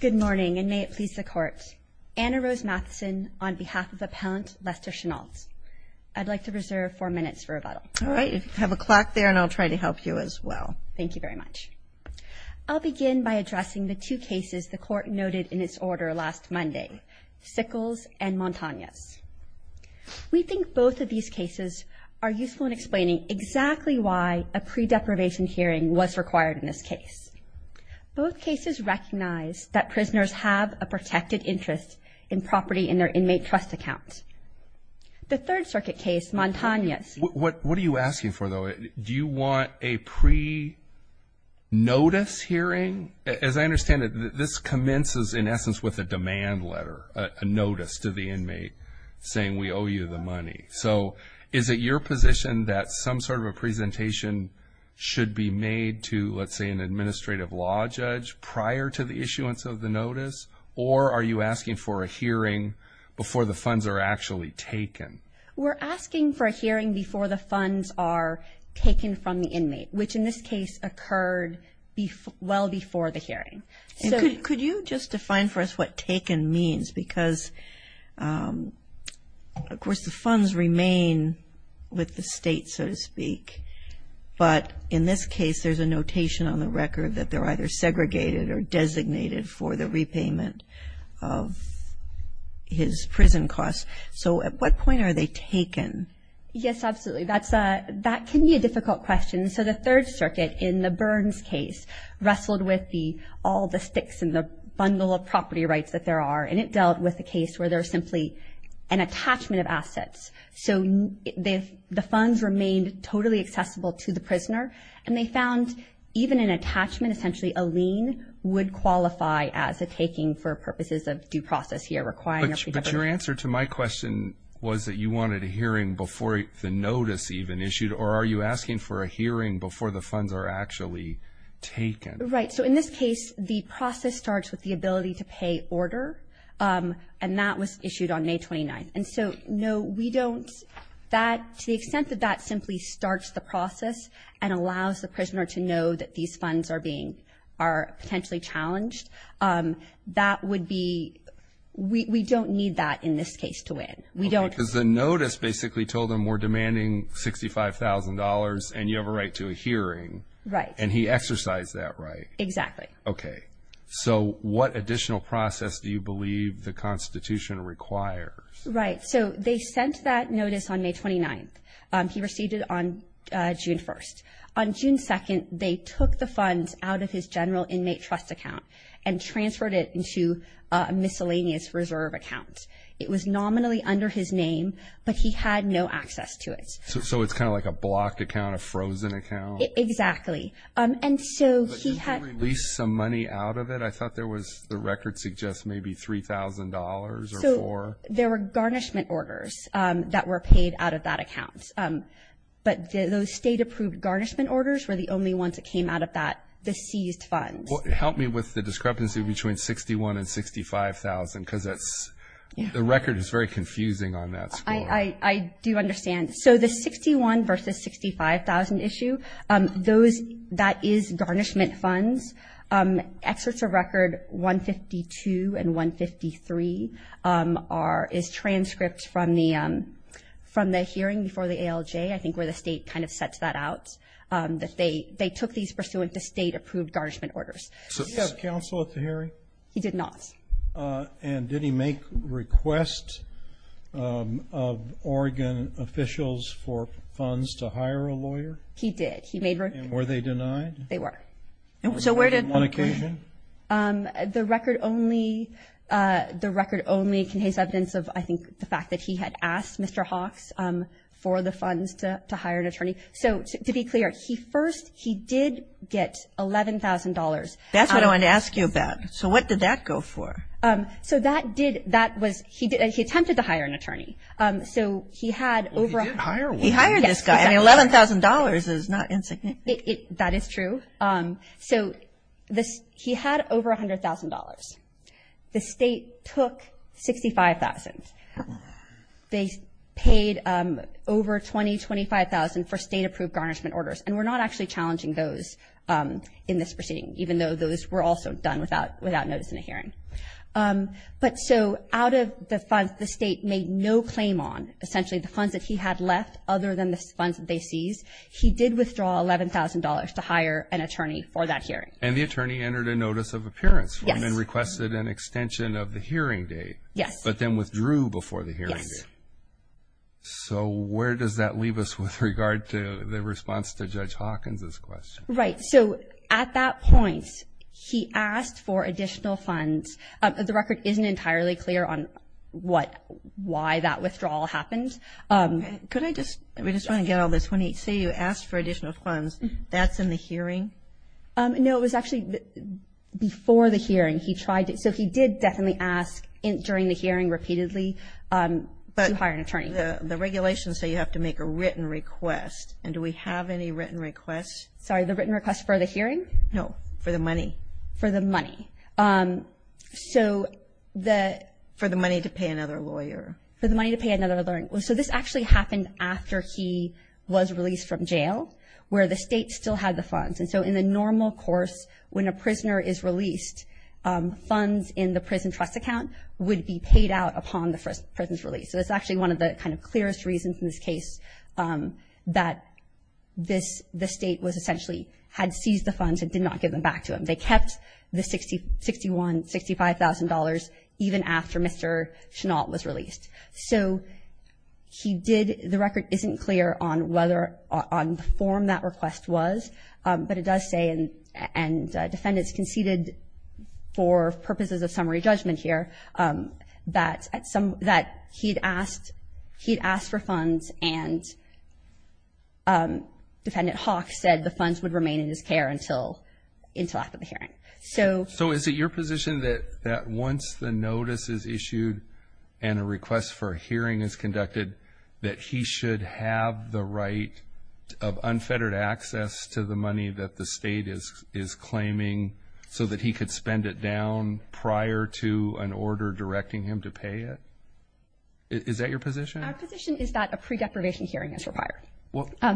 Good morning, and may it please the Court. Anna Rose Matheson on behalf of Appellant Lester Shinault. I'd like to reserve four minutes for rebuttal. All right. You have a clock there, and I'll try to help you as well. Thank you very much. I'll begin by addressing the two cases the Court noted in its order last Monday, Sickles and Montañez. We think both of these cases are useful in explaining exactly why a pre-deprivation hearing was required in this case. Both cases recognize that prisoners have a protected interest in property in their inmate trust account. The Third Circuit case, Montañez… What are you asking for, though? Do you want a pre-notice hearing? As I understand it, this commences, in essence, with a demand letter, a notice to the inmate saying, we owe you the money. So is it your position that some sort of a presentation should be made to, let's say, an administrative law judge prior to the issuance of the notice? Or are you asking for a hearing before the funds are actually taken? We're asking for a hearing before the funds are taken from the inmate, which in this case occurred well before the hearing. Could you just define for us what taken means? Because, of course, the funds remain with the State, so to speak. But in this case, there's a notation on the record that they're either segregated or designated for the repayment of his prison costs. So at what point are they taken? Yes, absolutely. That can be a difficult question. So the Third Circuit, in the Burns case, wrestled with all the sticks in the bundle of property rights that there are. And it dealt with a case where there's simply an attachment of assets. So the funds remained totally accessible to the prisoner. And they found even an attachment, essentially a lien, would qualify as a taking for purposes of due process here, requiring a pre-notice. And your answer to my question was that you wanted a hearing before the notice even issued? Or are you asking for a hearing before the funds are actually taken? Right. So in this case, the process starts with the ability to pay order. And that was issued on May 29th. And so, no, we don't – to the extent that that simply starts the process and allows the prisoner to know that these funds are potentially challenged, that would be – we don't need that in this case to win. Because the notice basically told him we're demanding $65,000 and you have a right to a hearing. Right. And he exercised that right. Exactly. Okay. So what additional process do you believe the Constitution requires? Right. So they sent that notice on May 29th. He received it on June 1st. On June 2nd, they took the funds out of his general inmate trust account and transferred it into a miscellaneous reserve account. It was nominally under his name, but he had no access to it. So it's kind of like a blocked account, a frozen account? Exactly. And so he had – But didn't he release some money out of it? I thought there was – the record suggests maybe $3,000 or four. So there were garnishment orders that were paid out of that account. But those state-approved garnishment orders were the only ones that came out of that, the seized funds. Help me with the discrepancy between $61,000 and $65,000 because that's – the record is very confusing on that score. I do understand. So the $61,000 versus $65,000 issue, those – that is garnishment funds. Excerpts of record 152 and 153 are – is transcripts from the hearing before the ALJ. I think where the state kind of sets that out, that they took these pursuant to state-approved garnishment orders. Did he have counsel at the hearing? He did not. And did he make requests of Oregon officials for funds to hire a lawyer? He did. And were they denied? They were. So where did – On occasion? The record only – the record only contains evidence of, I think, the fact that he had asked Mr. Hawks for the funds to hire an attorney. So to be clear, he first – he did get $11,000. That's what I wanted to ask you about. So what did that go for? So that did – that was – he attempted to hire an attorney. So he had over – Well, he did hire one. He hired this guy. And $11,000 is not insignificant. That is true. So he had over $100,000. The state took $65,000. They paid over $20,000, $25,000 for state-approved garnishment orders. And we're not actually challenging those in this proceeding, even though those were also done without notice in the hearing. But so out of the funds the state made no claim on, essentially the funds that he had left other than the funds that they seized, he did withdraw $11,000 to hire an attorney for that hearing. And the attorney entered a notice of appearance and requested an extension of the hearing date. Yes. But then withdrew before the hearing date. Yes. So where does that leave us with regard to the response to Judge Hawkins' question? Right. So at that point, he asked for additional funds. The record isn't entirely clear on what – why that withdrawal happened. Could I just – we just want to get all this. When you say you asked for additional funds, that's in the hearing? No, it was actually before the hearing. He tried to – so he did definitely ask during the hearing repeatedly to hire an attorney. But the regulations say you have to make a written request. And do we have any written requests? Sorry, the written request for the hearing? No, for the money. For the money. So the – For the money to pay another lawyer. For the money to pay another lawyer. So this actually happened after he was released from jail, where the state still had the funds. And so in the normal course, when a prisoner is released, funds in the prison trust account would be paid out upon the prison's release. So it's actually one of the kind of clearest reasons in this case that this – the state was essentially – had seized the funds and did not give them back to him. They kept the $61,000, $65,000 even after Mr. Chenault was released. So he did – the record isn't clear on whether – on the form that request was, but it does say, and defendants conceded for purposes of summary judgment here, that at some – that he'd asked – he'd asked for funds and Defendant Hawk said the funds would remain in his care until after the hearing. So – So is it your position that once the notice is issued and a request for a hearing is conducted, that he should have the right of unfettered access to the money that the state is claiming so that he could spend it down prior to an order directing him to pay it? Is that your position? Our position is that a pre-deprivation hearing is required.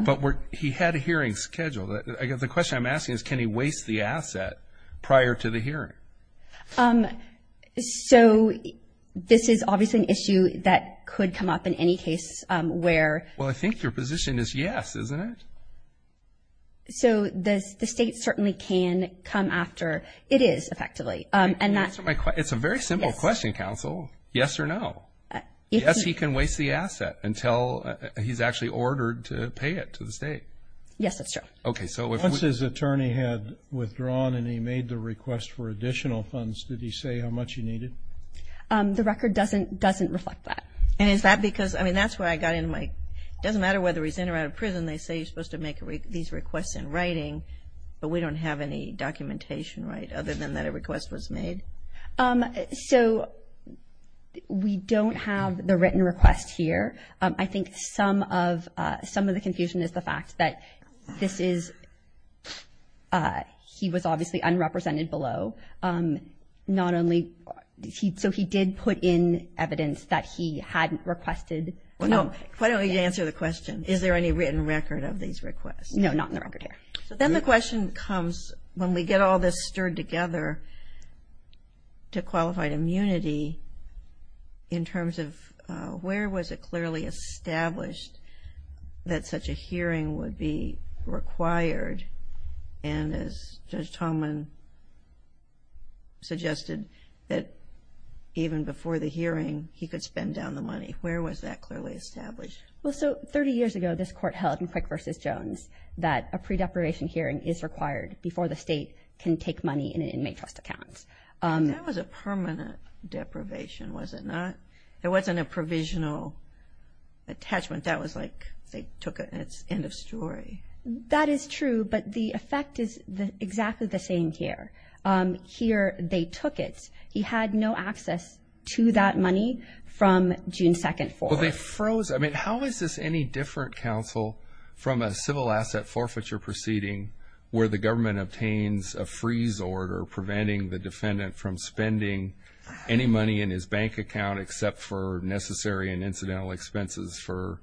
But he had a hearing scheduled. The question I'm asking is can he waste the asset prior to the hearing? So this is obviously an issue that could come up in any case where – Well, I think your position is yes, isn't it? So the state certainly can come after – it is, effectively. It's a very simple question, counsel, yes or no. Yes, he can waste the asset until he's actually ordered to pay it to the state. Yes, that's true. Okay, so if we – Once his attorney had withdrawn and he made the request for additional funds, did he say how much he needed? The record doesn't reflect that. And is that because – I mean, that's where I got into my – it doesn't matter whether he's in or out of prison, they say you're supposed to make these requests in writing, but we don't have any documentation, right, other than that a request was made? So we don't have the written request here. I think some of the confusion is the fact that this is – he was obviously unrepresented below. Not only – so he did put in evidence that he hadn't requested – No, why don't you answer the question. Is there any written record of these requests? No, not in the record here. So then the question comes, when we get all this stirred together, to qualified immunity in terms of where was it clearly established that such a hearing would be required? And as Judge Tallman suggested, that even before the hearing, he could spend down the money. Where was that clearly established? Well, so 30 years ago this court held in Prick v. Jones that a pre-deprivation hearing is required before the state can take money in an inmate trust account. That was a permanent deprivation, was it not? It wasn't a provisional attachment. That was like they took it and it's end of story. That is true, but the effect is exactly the same here. Here they took it. He had no access to that money from June 2nd forward. How is this any different, counsel, from a civil asset forfeiture proceeding where the government obtains a freeze order preventing the defendant from spending any money in his bank account except for necessary and incidental expenses for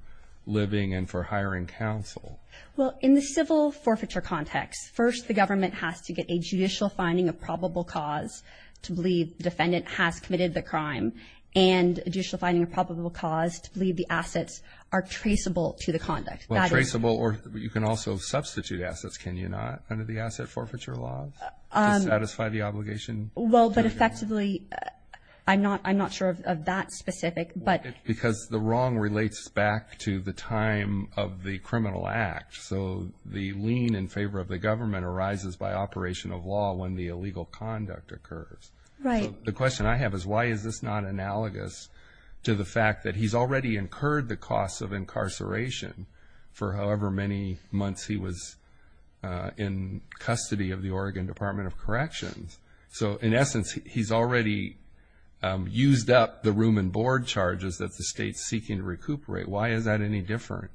living and for hiring counsel? Well, in the civil forfeiture context, first the government has to get a judicial finding of probable cause to believe the defendant has committed the crime and a judicial finding of probable cause to believe the assets are traceable to the conduct. Traceable or you can also substitute assets, can you not, under the asset forfeiture laws to satisfy the obligation? Well, but effectively I'm not sure of that specific. Because the wrong relates back to the time of the criminal act. So the lien in favor of the government arises by operation of law when the illegal conduct occurs. Right. So the question I have is why is this not analogous to the fact that he's already incurred the cost of incarceration for however many months he was in custody of the Oregon Department of Corrections. So in essence, he's already used up the room and board charges that the state's seeking to recuperate. Why is that any different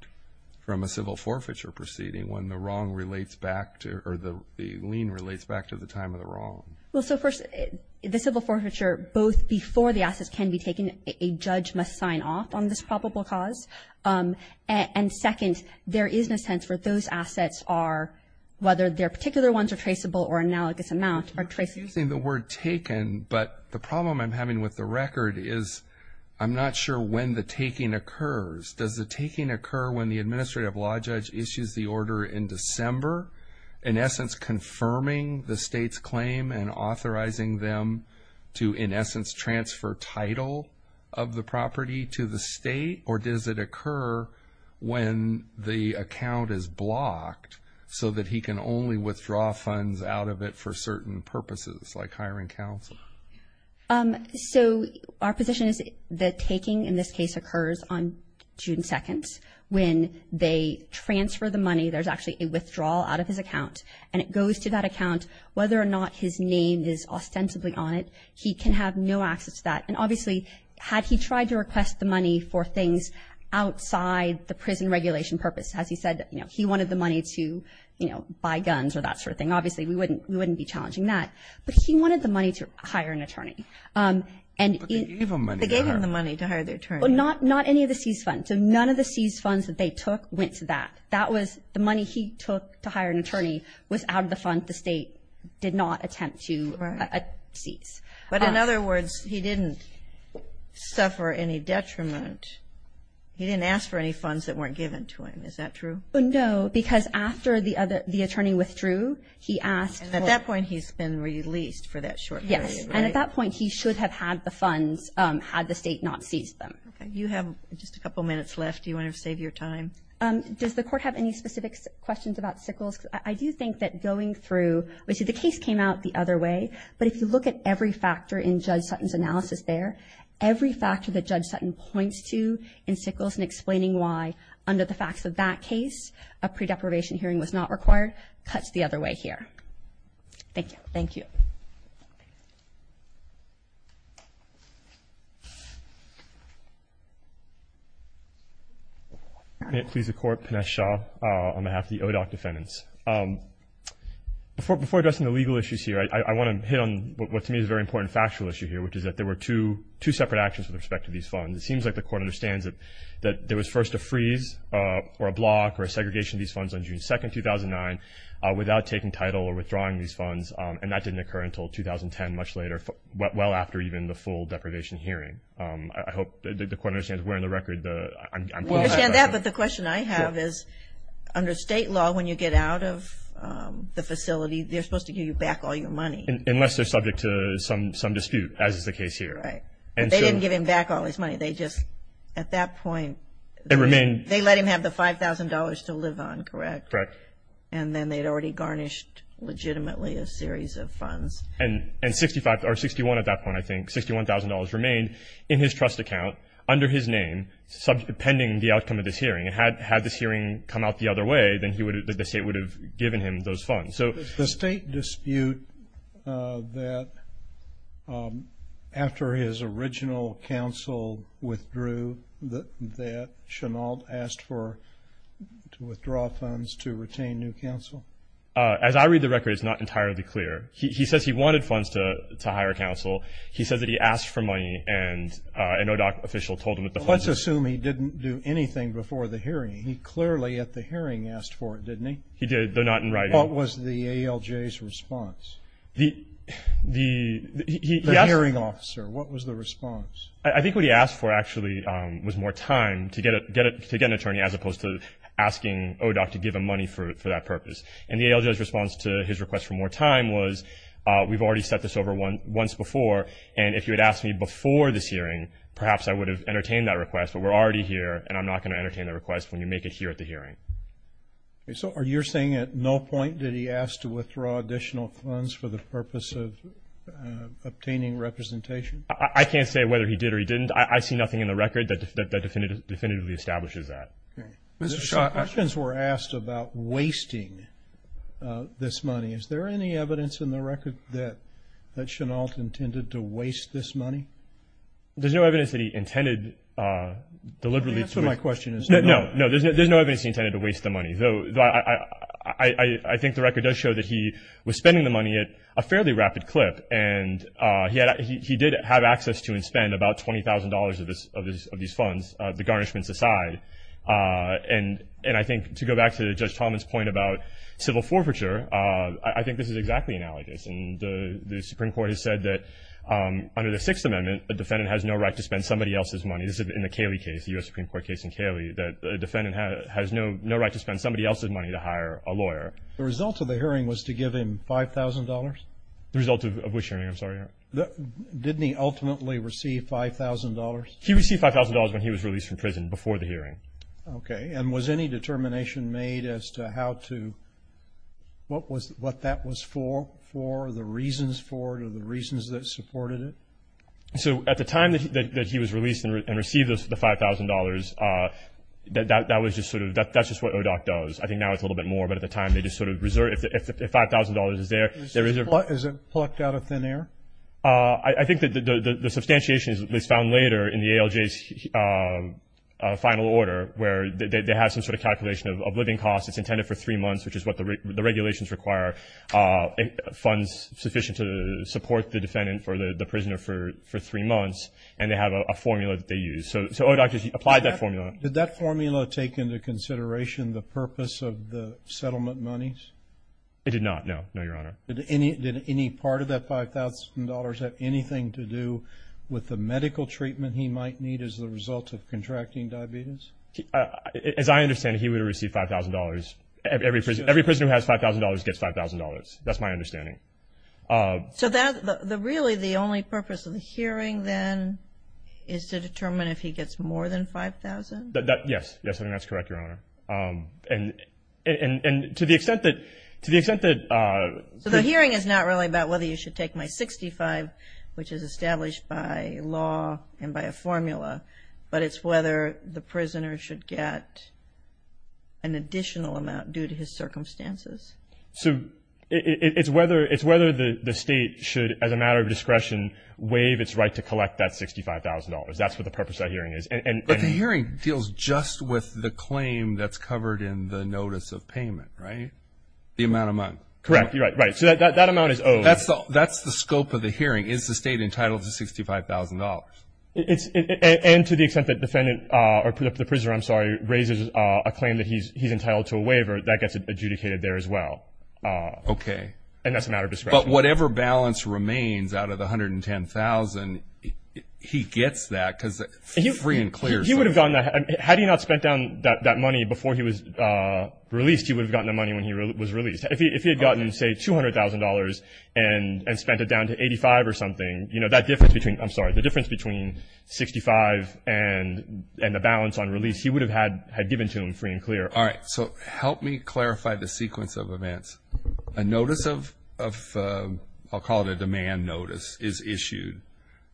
from a civil forfeiture proceeding when the wrong relates back to or the lien relates back to the time of the wrong? Well, so first, the civil forfeiture, both before the assets can be taken, a judge must sign off on this probable cause. And second, there is no sense for those assets are, whether their particular ones are traceable or analogous amount are traceable. You're using the word taken, but the problem I'm having with the record is I'm not sure when the taking occurs. Does the taking occur when the administrative law judge issues the order in December, in essence confirming the state's claim and authorizing them to, in essence, transfer title of the property to the state? Or does it occur when the account is blocked so that he can only withdraw funds out of it for certain purposes like hiring counsel? So our position is the taking in this case occurs on June 2nd. When they transfer the money, there's actually a withdrawal out of his account, and it goes to that account. Whether or not his name is ostensibly on it, he can have no access to that. And obviously, had he tried to request the money for things outside the prison regulation purpose, as he said, you know, he wanted the money to, you know, buy guns or that sort of thing. Obviously, we wouldn't be challenging that. But he wanted the money to hire an attorney. They gave him the money to hire the attorney. Not any of the seized funds. So none of the seized funds that they took went to that. That was the money he took to hire an attorney was out of the funds the state did not attempt to seize. But in other words, he didn't suffer any detriment. He didn't ask for any funds that weren't given to him. Is that true? No, because after the attorney withdrew, he asked. And at that point, he's been released for that short period, right? And at that point, he should have had the funds had the state not seized them. Okay. You have just a couple minutes left. Do you want to save your time? Does the Court have any specific questions about Sickles? I do think that going through the case came out the other way. But if you look at every factor in Judge Sutton's analysis there, every factor that Judge Sutton points to in Sickles in explaining why, under the facts of that case, a pre-deprivation hearing was not required, cuts the other way here. Thank you. Thank you. Thank you. May it please the Court, Pinesh Shah on behalf of the ODOC defendants. Before addressing the legal issues here, I want to hit on what to me is a very important factual issue here, which is that there were two separate actions with respect to these funds. It seems like the Court understands that there was first a freeze or a block or a segregation of these funds on June 2, 2009, without taking title or withdrawing these funds, and that didn't occur until 2010, much later, well after even the full deprivation hearing. I hope the Court understands we're on the record. I understand that, but the question I have is under state law, when you get out of the facility, they're supposed to give you back all your money. Unless they're subject to some dispute, as is the case here. Right. But they didn't give him back all his money. They just, at that point, they let him have the $5,000 to live on, correct? Correct. And then they'd already garnished legitimately a series of funds. And $61,000 remained in his trust account under his name pending the outcome of this hearing. Had this hearing come out the other way, then the state would have given him those funds. The state dispute that, after his original counsel withdrew, that Chenault asked for to withdraw funds to retain new counsel? As I read the record, it's not entirely clear. He says he wanted funds to hire counsel. He says that he asked for money, and an ODAC official told him that the funds were- Let's assume he didn't do anything before the hearing. He clearly, at the hearing, asked for it, didn't he? He did, though not in writing. What was the ALJ's response? The hearing officer, what was the response? I think what he asked for, actually, was more time to get an attorney, as opposed to asking ODAC to give him money for that purpose. And the ALJ's response to his request for more time was, we've already set this over once before, and if you had asked me before this hearing, perhaps I would have entertained that request, but we're already here, and I'm not going to entertain the request when you make it here at the hearing. So you're saying at no point did he ask to withdraw additional funds for the purpose of obtaining representation? I can't say whether he did or he didn't. I see nothing in the record that definitively establishes that. Some questions were asked about wasting this money. Is there any evidence in the record that Chenault intended to waste this money? There's no evidence that he intended deliberately to- The answer to my question is no. No, there's no evidence he intended to waste the money. I think the record does show that he was spending the money at a fairly rapid clip, and he did have access to and spend about $20,000 of these funds, the garnishments aside. And I think to go back to Judge Thomas' point about civil forfeiture, I think this is exactly analogous. And the Supreme Court has said that under the Sixth Amendment, a defendant has no right to spend somebody else's money. This is in the Cayley case, the U.S. Supreme Court case in Cayley, that a defendant has no right to spend somebody else's money to hire a lawyer. The result of the hearing was to give him $5,000? The result of which hearing, I'm sorry? Didn't he ultimately receive $5,000? He received $5,000 when he was released from prison, before the hearing. Okay. And was any determination made as to how to-what that was for, the reasons for it or the reasons that supported it? So at the time that he was released and received the $5,000, that was just sort of-that's just what ODOC does. I think now it's a little bit more, but at the time they just sort of reserved it. If the $5,000 is there, there is a- Is it plucked out of thin air? I think that the substantiation is found later in the ALJ's final order, where they have some sort of calculation of living costs. It's intended for three months, which is what the regulations require. Funds sufficient to support the defendant or the prisoner for three months, and they have a formula that they use. So ODOC applied that formula. Did that formula take into consideration the purpose of the settlement monies? It did not, no. No, Your Honor. Did any part of that $5,000 have anything to do with the medical treatment he might need as a result of contracting diabetes? As I understand it, he would have received $5,000. Every prisoner who has $5,000 gets $5,000. That's my understanding. So really the only purpose of the hearing then is to determine if he gets more than $5,000? Yes. Yes, I think that's correct, Your Honor. And to the extent that- So the hearing is not really about whether you should take my 65, which is established by law and by a formula, but it's whether the prisoner should get an additional amount due to his circumstances. So it's whether the state should, as a matter of discretion, waive its right to collect that $65,000. That's what the purpose of that hearing is. But the hearing deals just with the claim that's covered in the notice of payment, right? The amount of money. Correct. You're right. So that amount is owed. That's the scope of the hearing. Is the state entitled to $65,000? And to the extent that the prisoner raises a claim that he's entitled to a waiver, that gets adjudicated there as well. Okay. And that's a matter of discretion. But whatever balance remains out of the $110,000, he gets that because it's free and clear. He would have gotten that. Had he not spent down that money before he was released, he would have gotten the money when he was released. If he had gotten, say, $200,000 and spent it down to $85,000 or something, the difference between $65,000 and the balance on release, he would have had given to him free and clear. All right. So help me clarify the sequence of events. A notice of, I'll call it a demand notice, is issued.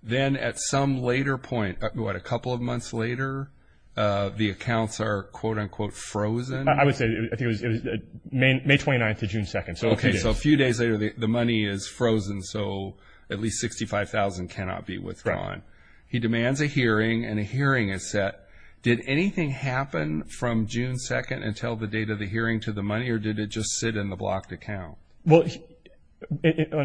Then at some later point, what, a couple of months later, the accounts are, quote, unquote, frozen? I would say it was May 29th to June 2nd. Okay. So a few days later, the money is frozen. So at least $65,000 cannot be withdrawn. Right. He demands a hearing, and a hearing is set. Did anything happen from June 2nd until the date of the hearing to the money, or did it just sit in the blocked account? Well,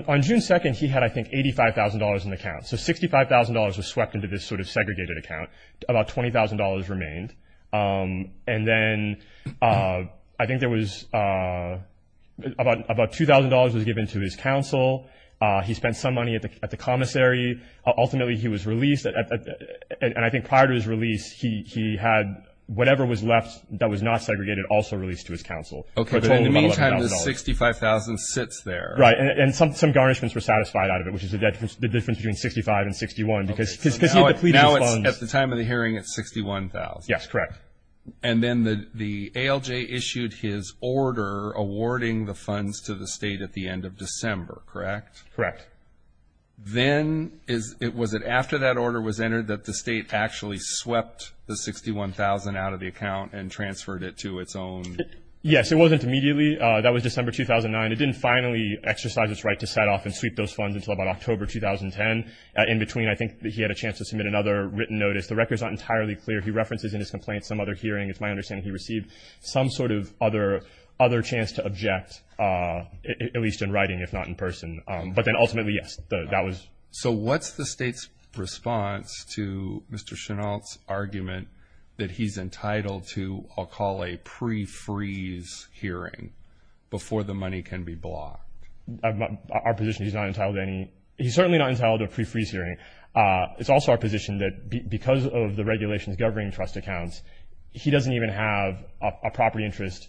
on June 2nd, he had, I think, $85,000 in the account. So $65,000 was swept into this sort of segregated account. About $20,000 remained. And then I think there was about $2,000 was given to his counsel. He spent some money at the commissary. Ultimately, he was released. And I think prior to his release, he had whatever was left that was not segregated also released to his counsel. Okay. But in the meantime, the $65,000 sits there. Right. And some garnishments were satisfied out of it, which is the difference between $65,000 and $61,000 because he had depleted his funds. Now at the time of the hearing, it's $61,000. Yes, correct. And then the ALJ issued his order awarding the funds to the state at the end of December, correct? Correct. Then was it after that order was entered that the state actually swept the $61,000 out of the account and transferred it to its own? Yes, it wasn't immediately. That was December 2009. It didn't finally exercise its right to set off and sweep those funds until about October 2010. In between, I think he had a chance to submit another written notice. The record is not entirely clear. He references in his complaint some other hearing. It's my understanding he received some sort of other chance to object, at least in writing, if not in person. But then ultimately, yes, that was. So what's the state's response to Mr. Chenault's argument that he's entitled to, I'll call a pre-freeze hearing before the money can be blocked? Our position is he's not entitled to any. He's certainly not entitled to a pre-freeze hearing. It's also our position that because of the regulations governing trust accounts, he doesn't even have a property interest.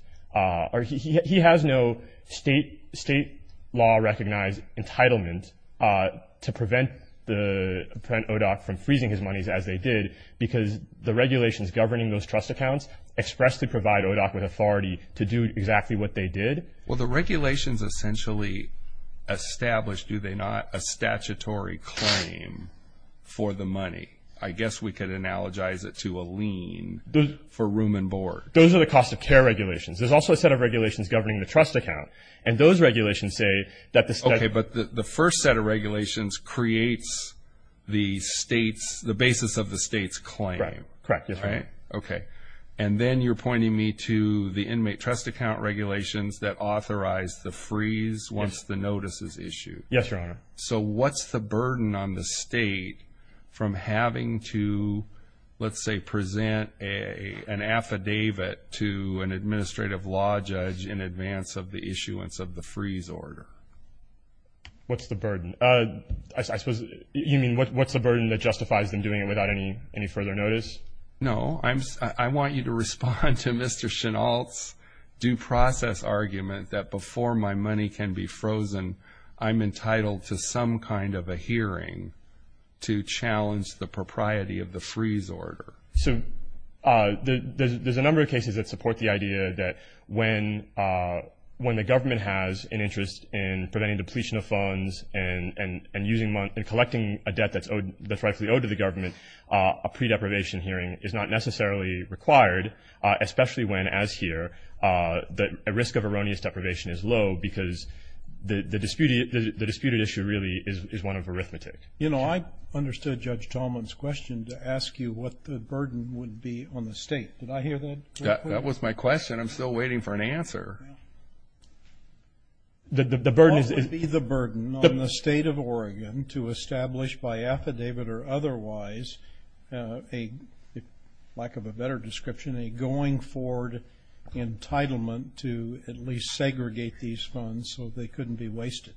He has no state law-recognized entitlement to prevent ODOC from freezing his monies, as they did, because the regulations governing those trust accounts expressly provide ODOC with authority to do exactly what they did. Well, the regulations essentially establish, do they not, a statutory claim for the money. I guess we could analogize it to a lien for room and board. Those are the cost of care regulations. There's also a set of regulations governing the trust account, and those regulations say that the state- Okay, but the first set of regulations creates the basis of the state's claim. Correct. Okay. And then you're pointing me to the inmate trust account regulations that authorize the freeze once the notice is issued. Yes, Your Honor. So what's the burden on the state from having to, let's say, present an affidavit to an administrative law judge in advance of the issuance of the freeze order? What's the burden? I suppose you mean what's the burden that justifies them doing it without any further notice? No. I want you to respond to Mr. Chenault's due process argument that before my money can be frozen, I'm entitled to some kind of a hearing to challenge the propriety of the freeze order. So there's a number of cases that support the idea that when the government has an interest in preventing depletion of funds and collecting a debt that's rightfully owed to the government, a pre-deprivation hearing is not necessarily required, especially when, as here, a risk of erroneous deprivation is low because the disputed issue really is one of arithmetic. You know, I understood Judge Talmon's question to ask you what the burden would be on the state. Did I hear that correctly? That was my question. I'm still waiting for an answer. What would be the burden on the state of Oregon to establish by affidavit or otherwise, lack of a better description, a going forward entitlement to at least segregate these funds so they couldn't be wasted?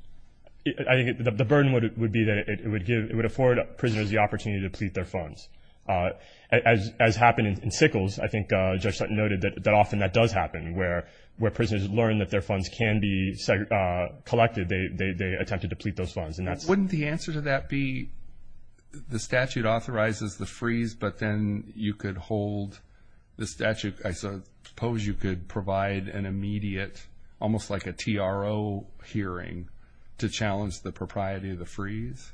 I think the burden would be that it would afford prisoners the opportunity to deplete their funds. As happened in Sickles, I think Judge Sutton noted that often that does happen, where prisoners learn that their funds can be collected, they attempt to deplete those funds. Wouldn't the answer to that be the statute authorizes the freeze, but then you could hold the statute? I suppose you could provide an immediate, almost like a TRO hearing to challenge the propriety of the freeze?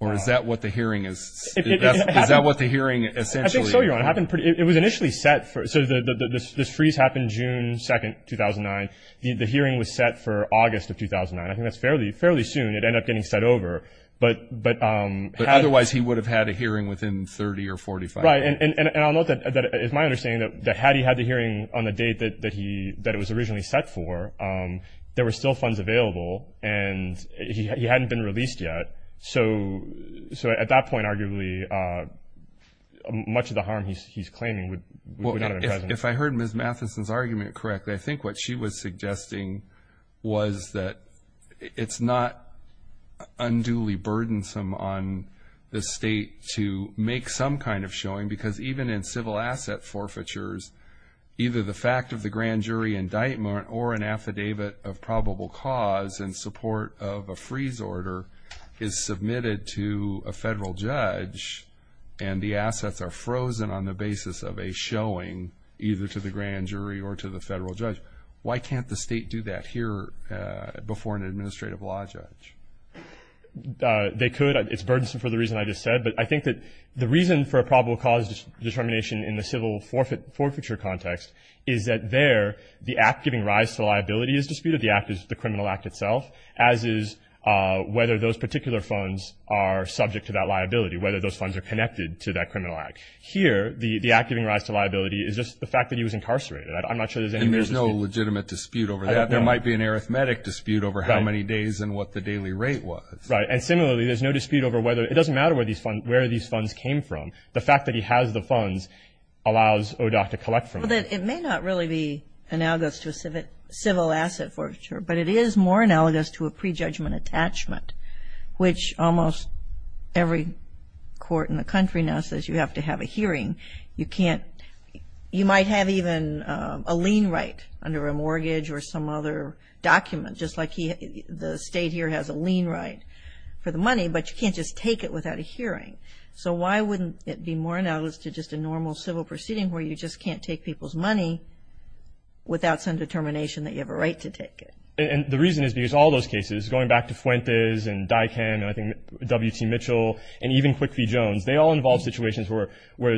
Or is that what the hearing is? Is that what the hearing essentially is? I think so, Your Honor. It was initially set for, so this freeze happened June 2, 2009. The hearing was set for August of 2009. I think that's fairly soon. It ended up getting set over. But otherwise he would have had a hearing within 30 or 45. Right. And I'll note that it's my understanding that had he had the hearing on the date that it was originally set for, there were still funds available, and he hadn't been released yet. So at that point, arguably, much of the harm he's claiming would not have been present. If I heard Ms. Mathison's argument correctly, I think what she was suggesting was that it's not unduly burdensome on the state to make some kind of showing, because even in civil asset forfeitures, either the fact of the grand jury indictment or an affidavit of probable cause in support of a freeze order is submitted to a federal judge, and the assets are frozen on the basis of a showing either to the grand jury or to the federal judge. Why can't the state do that here before an administrative law judge? They could. It's burdensome for the reason I just said. But I think that the reason for a probable cause determination in the civil forfeiture context is that there the act giving rise to liability is disputed. The act is the criminal act itself, as is whether those particular funds are subject to that liability, whether those funds are connected to that criminal act. Here, the act giving rise to liability is just the fact that he was incarcerated. I'm not sure there's any real dispute. And there's no legitimate dispute over that. There might be an arithmetic dispute over how many days and what the daily rate was. Right. And similarly, there's no dispute over whether it doesn't matter where these funds came from. The fact that he has the funds allows ODOT to collect from them. It may not really be analogous to a civil asset forfeiture, but it is more analogous to a prejudgment attachment, which almost every court in the country now says you have to have a hearing. You might have even a lien right under a mortgage or some other document, just like the state here has a lien right for the money, but you can't just take it without a hearing. So why wouldn't it be more analogous to just a normal civil proceeding where you just can't take people's money without some determination that you have a right to take it? And the reason is because all those cases, going back to Fuentes and DICAN and I think W.T. Mitchell and even Quickie Jones, they all involved situations where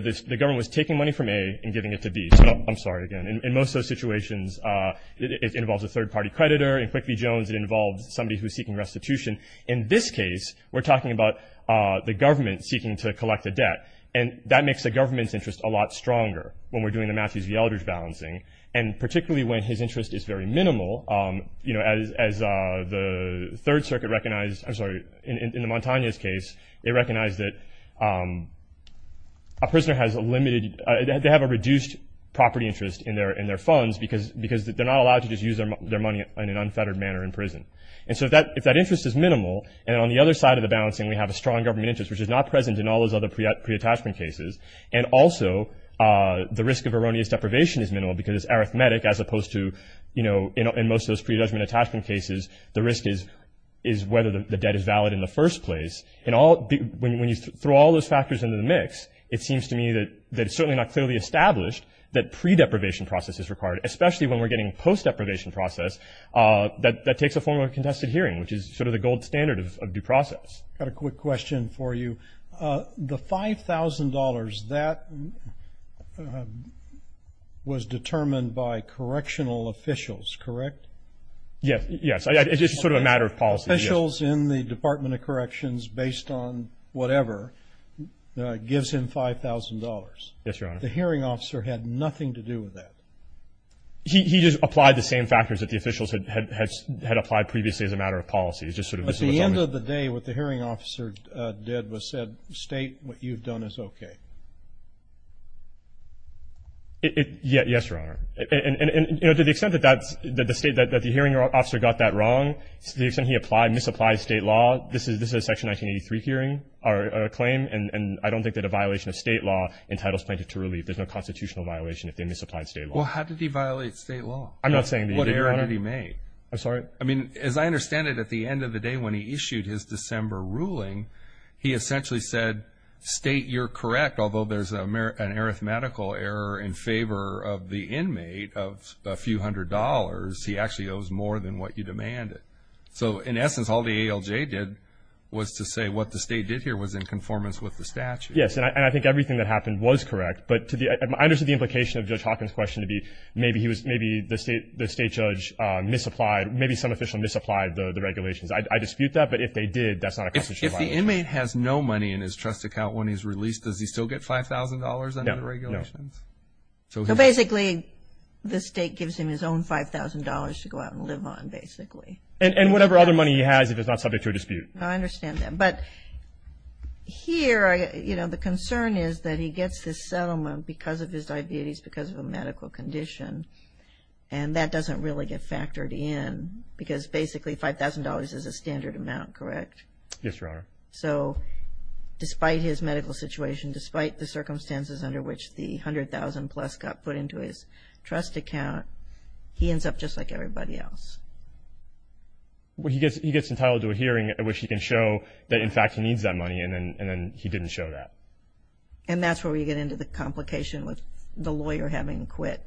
the government was taking money from A and giving it to B. So I'm sorry again. In most of those situations, it involves a third-party creditor. In Quickie Jones, it involves somebody who's seeking restitution. In this case, we're talking about the government seeking to collect a debt, and that makes the government's interest a lot stronger when we're doing the Matthews v. Eldridge balancing, and particularly when his interest is very minimal. As the Third Circuit recognized, I'm sorry, in the Montañez case, they recognized that a prisoner has a limited – they have a reduced property interest in their funds because they're not allowed to just use their money in an unfettered manner in prison. And so if that interest is minimal, and on the other side of the balancing, we have a strong government interest, which is not present in all those other pre-attachment cases, and also the risk of erroneous deprivation is minimal because it's arithmetic as opposed to, you know, in most of those pre-judgment attachment cases, the risk is whether the debt is valid in the first place. When you throw all those factors into the mix, it seems to me that it's certainly not clearly established that pre-deprivation process is required, especially when we're getting post-deprivation process. That takes the form of a contested hearing, which is sort of the gold standard of due process. I've got a quick question for you. The $5,000, that was determined by correctional officials, correct? Yes, it's just sort of a matter of policy. Officials in the Department of Corrections, based on whatever, gives him $5,000. Yes, Your Honor. But the hearing officer had nothing to do with that. He just applied the same factors that the officials had applied previously as a matter of policy. But at the end of the day, what the hearing officer did was said, State, what you've done is okay. Yes, Your Honor. And, you know, to the extent that the hearing officer got that wrong, to the extent he misapplied state law, this is a Section 1983 claim, and I don't think that a violation of state law entitles plaintiff to relief. There's no constitutional violation if they misapplied state law. Well, how did he violate state law? I'm not saying that he did, Your Honor. What error did he make? I'm sorry? I mean, as I understand it, at the end of the day when he issued his December ruling, he essentially said, State, you're correct, although there's an arithmetical error in favor of the inmate of a few hundred dollars, he actually owes more than what you demanded. So, in essence, all the ALJ did was to say what the State did here was in conformance with the statute. Yes, and I think everything that happened was correct, but I understand the implication of Judge Hawkins' question to be maybe the state judge misapplied, maybe some official misapplied the regulations. I dispute that, but if they did, that's not a constitutional violation. If the inmate has no money in his trust account when he's released, does he still get $5,000 under the regulations? No, no. So, basically, the State gives him his own $5,000 to go out and live on, basically. And whatever other money he has if it's not subject to a dispute. I understand that. But here, you know, the concern is that he gets this settlement because of his diabetes, because of a medical condition, and that doesn't really get factored in, because basically $5,000 is a standard amount, correct? Yes, Your Honor. So, despite his medical situation, despite the circumstances under which the $100,000-plus got put into his trust account, he ends up just like everybody else. Well, he gets entitled to a hearing in which he can show that, in fact, he needs that money, and then he didn't show that. And that's where we get into the complication with the lawyer having to quit,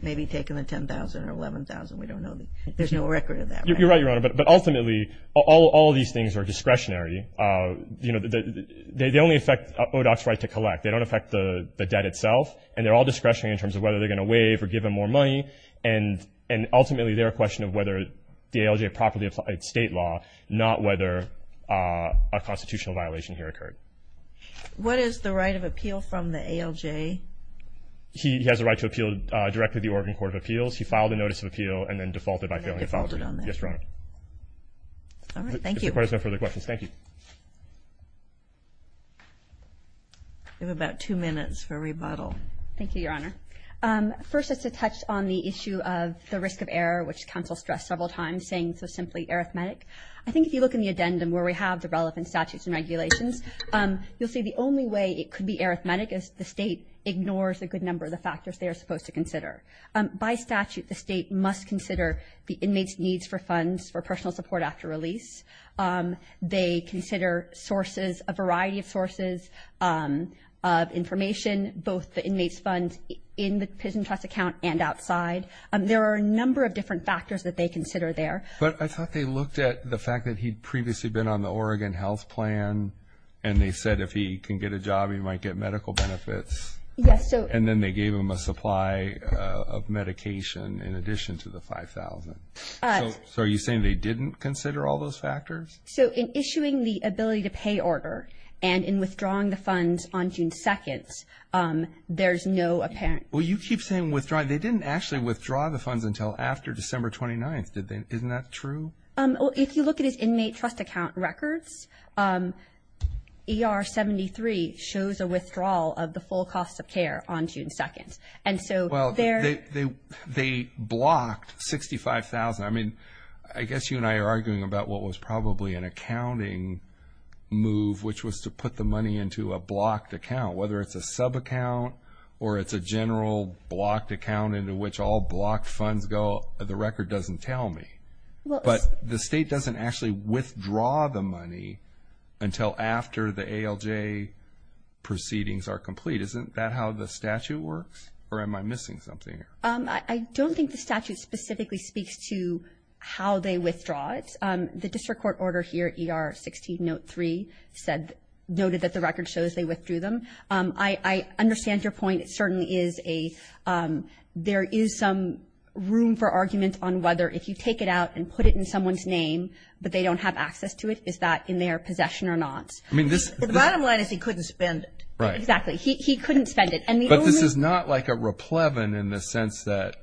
maybe taking the $10,000 or $11,000. We don't know. There's no record of that. You're right, Your Honor. But ultimately, all of these things are discretionary. You know, they only affect ODOT's right to collect. They don't affect the debt itself, and they're all discretionary in terms of whether they're going to waive or give him more money. And ultimately, they're a question of whether the ALJ properly applied state law, not whether a constitutional violation here occurred. What is the right of appeal from the ALJ? He has a right to appeal directly to the Oregon Court of Appeals. He filed a notice of appeal and then defaulted on that. Yes, Your Honor. All right. Thank you. If there are no further questions, thank you. We have about two minutes for rebuttal. Thank you, Your Honor. First, just to touch on the issue of the risk of error, which counsel stressed several times, saying so simply arithmetic. I think if you look in the addendum where we have the relevant statutes and regulations, you'll see the only way it could be arithmetic is the state ignores a good number of the factors they are supposed to consider. By statute, the state must consider the inmates' needs for funds for personal support after release. They consider sources, a variety of sources of information, both the inmates' funds in the prison trust account and outside. There are a number of different factors that they consider there. But I thought they looked at the fact that he'd previously been on the Oregon health plan and they said if he can get a job, he might get medical benefits. Yes. And then they gave him a supply of medication in addition to the $5,000. So are you saying they didn't consider all those factors? So in issuing the ability to pay order and in withdrawing the funds on June 2nd, there's no apparent. Well, you keep saying withdraw. They didn't actually withdraw the funds until after December 29th. Isn't that true? If you look at his inmate trust account records, ER 73 shows a withdrawal of the full cost of care on June 2nd. And so there. Well, they blocked $65,000. I mean, I guess you and I are arguing about what was probably an accounting move, which was to put the money into a blocked account, whether it's a subaccount or it's a general blocked account into which all blocked funds go. The record doesn't tell me. But the state doesn't actually withdraw the money until after the ALJ proceedings are complete. Isn't that how the statute works? Or am I missing something? I don't think the statute specifically speaks to how they withdraw it. The district court order here, ER 16 note 3, noted that the record shows they withdrew them. I understand your point. There is some room for argument on whether if you take it out and put it in someone's name but they don't have access to it, is that in their possession or not? The bottom line is he couldn't spend it. Right. Exactly. He couldn't spend it. But this is not like a raplevin in the sense that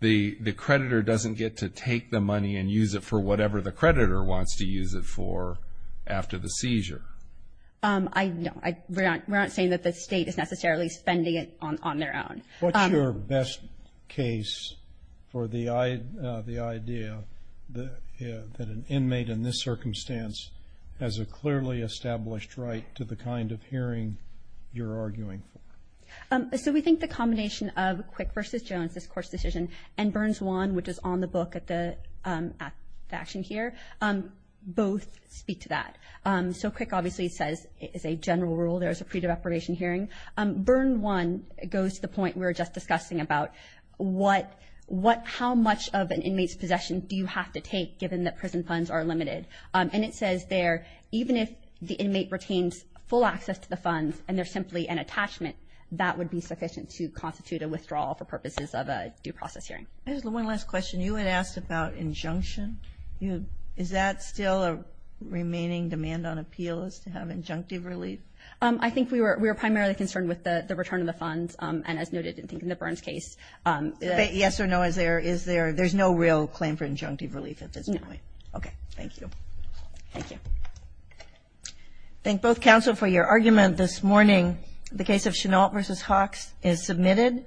the creditor doesn't get to take the money and use it for whatever the creditor wants to use it for after the seizure. No. We're not saying that the state is necessarily spending it on their own. What's your best case for the idea that an inmate in this circumstance has a clearly established right to the kind of hearing you're arguing for? So we think the combination of Quick v. Jones, this court's decision, and Burns 1, which is on the book at the action here, both speak to that. So Quick obviously says it's a general rule there is a pre-deprivation hearing. Burns 1 goes to the point we were just discussing about how much of an inmate's possession do you have to take given that prison funds are limited? And it says there even if the inmate retains full access to the funds and they're simply an attachment that would be sufficient to constitute a withdrawal for purposes of a due process hearing. Just one last question. You had asked about injunction. Is that still a remaining demand on appeals to have injunctive relief? I think we were primarily concerned with the return of the funds, and as noted, I think in the Burns case. Yes or no, is there? There's no real claim for injunctive relief at this point. No. Okay. Thank you. Thank you. Thank both counsel for your argument this morning. The case of Chenault v. Hawks is submitted.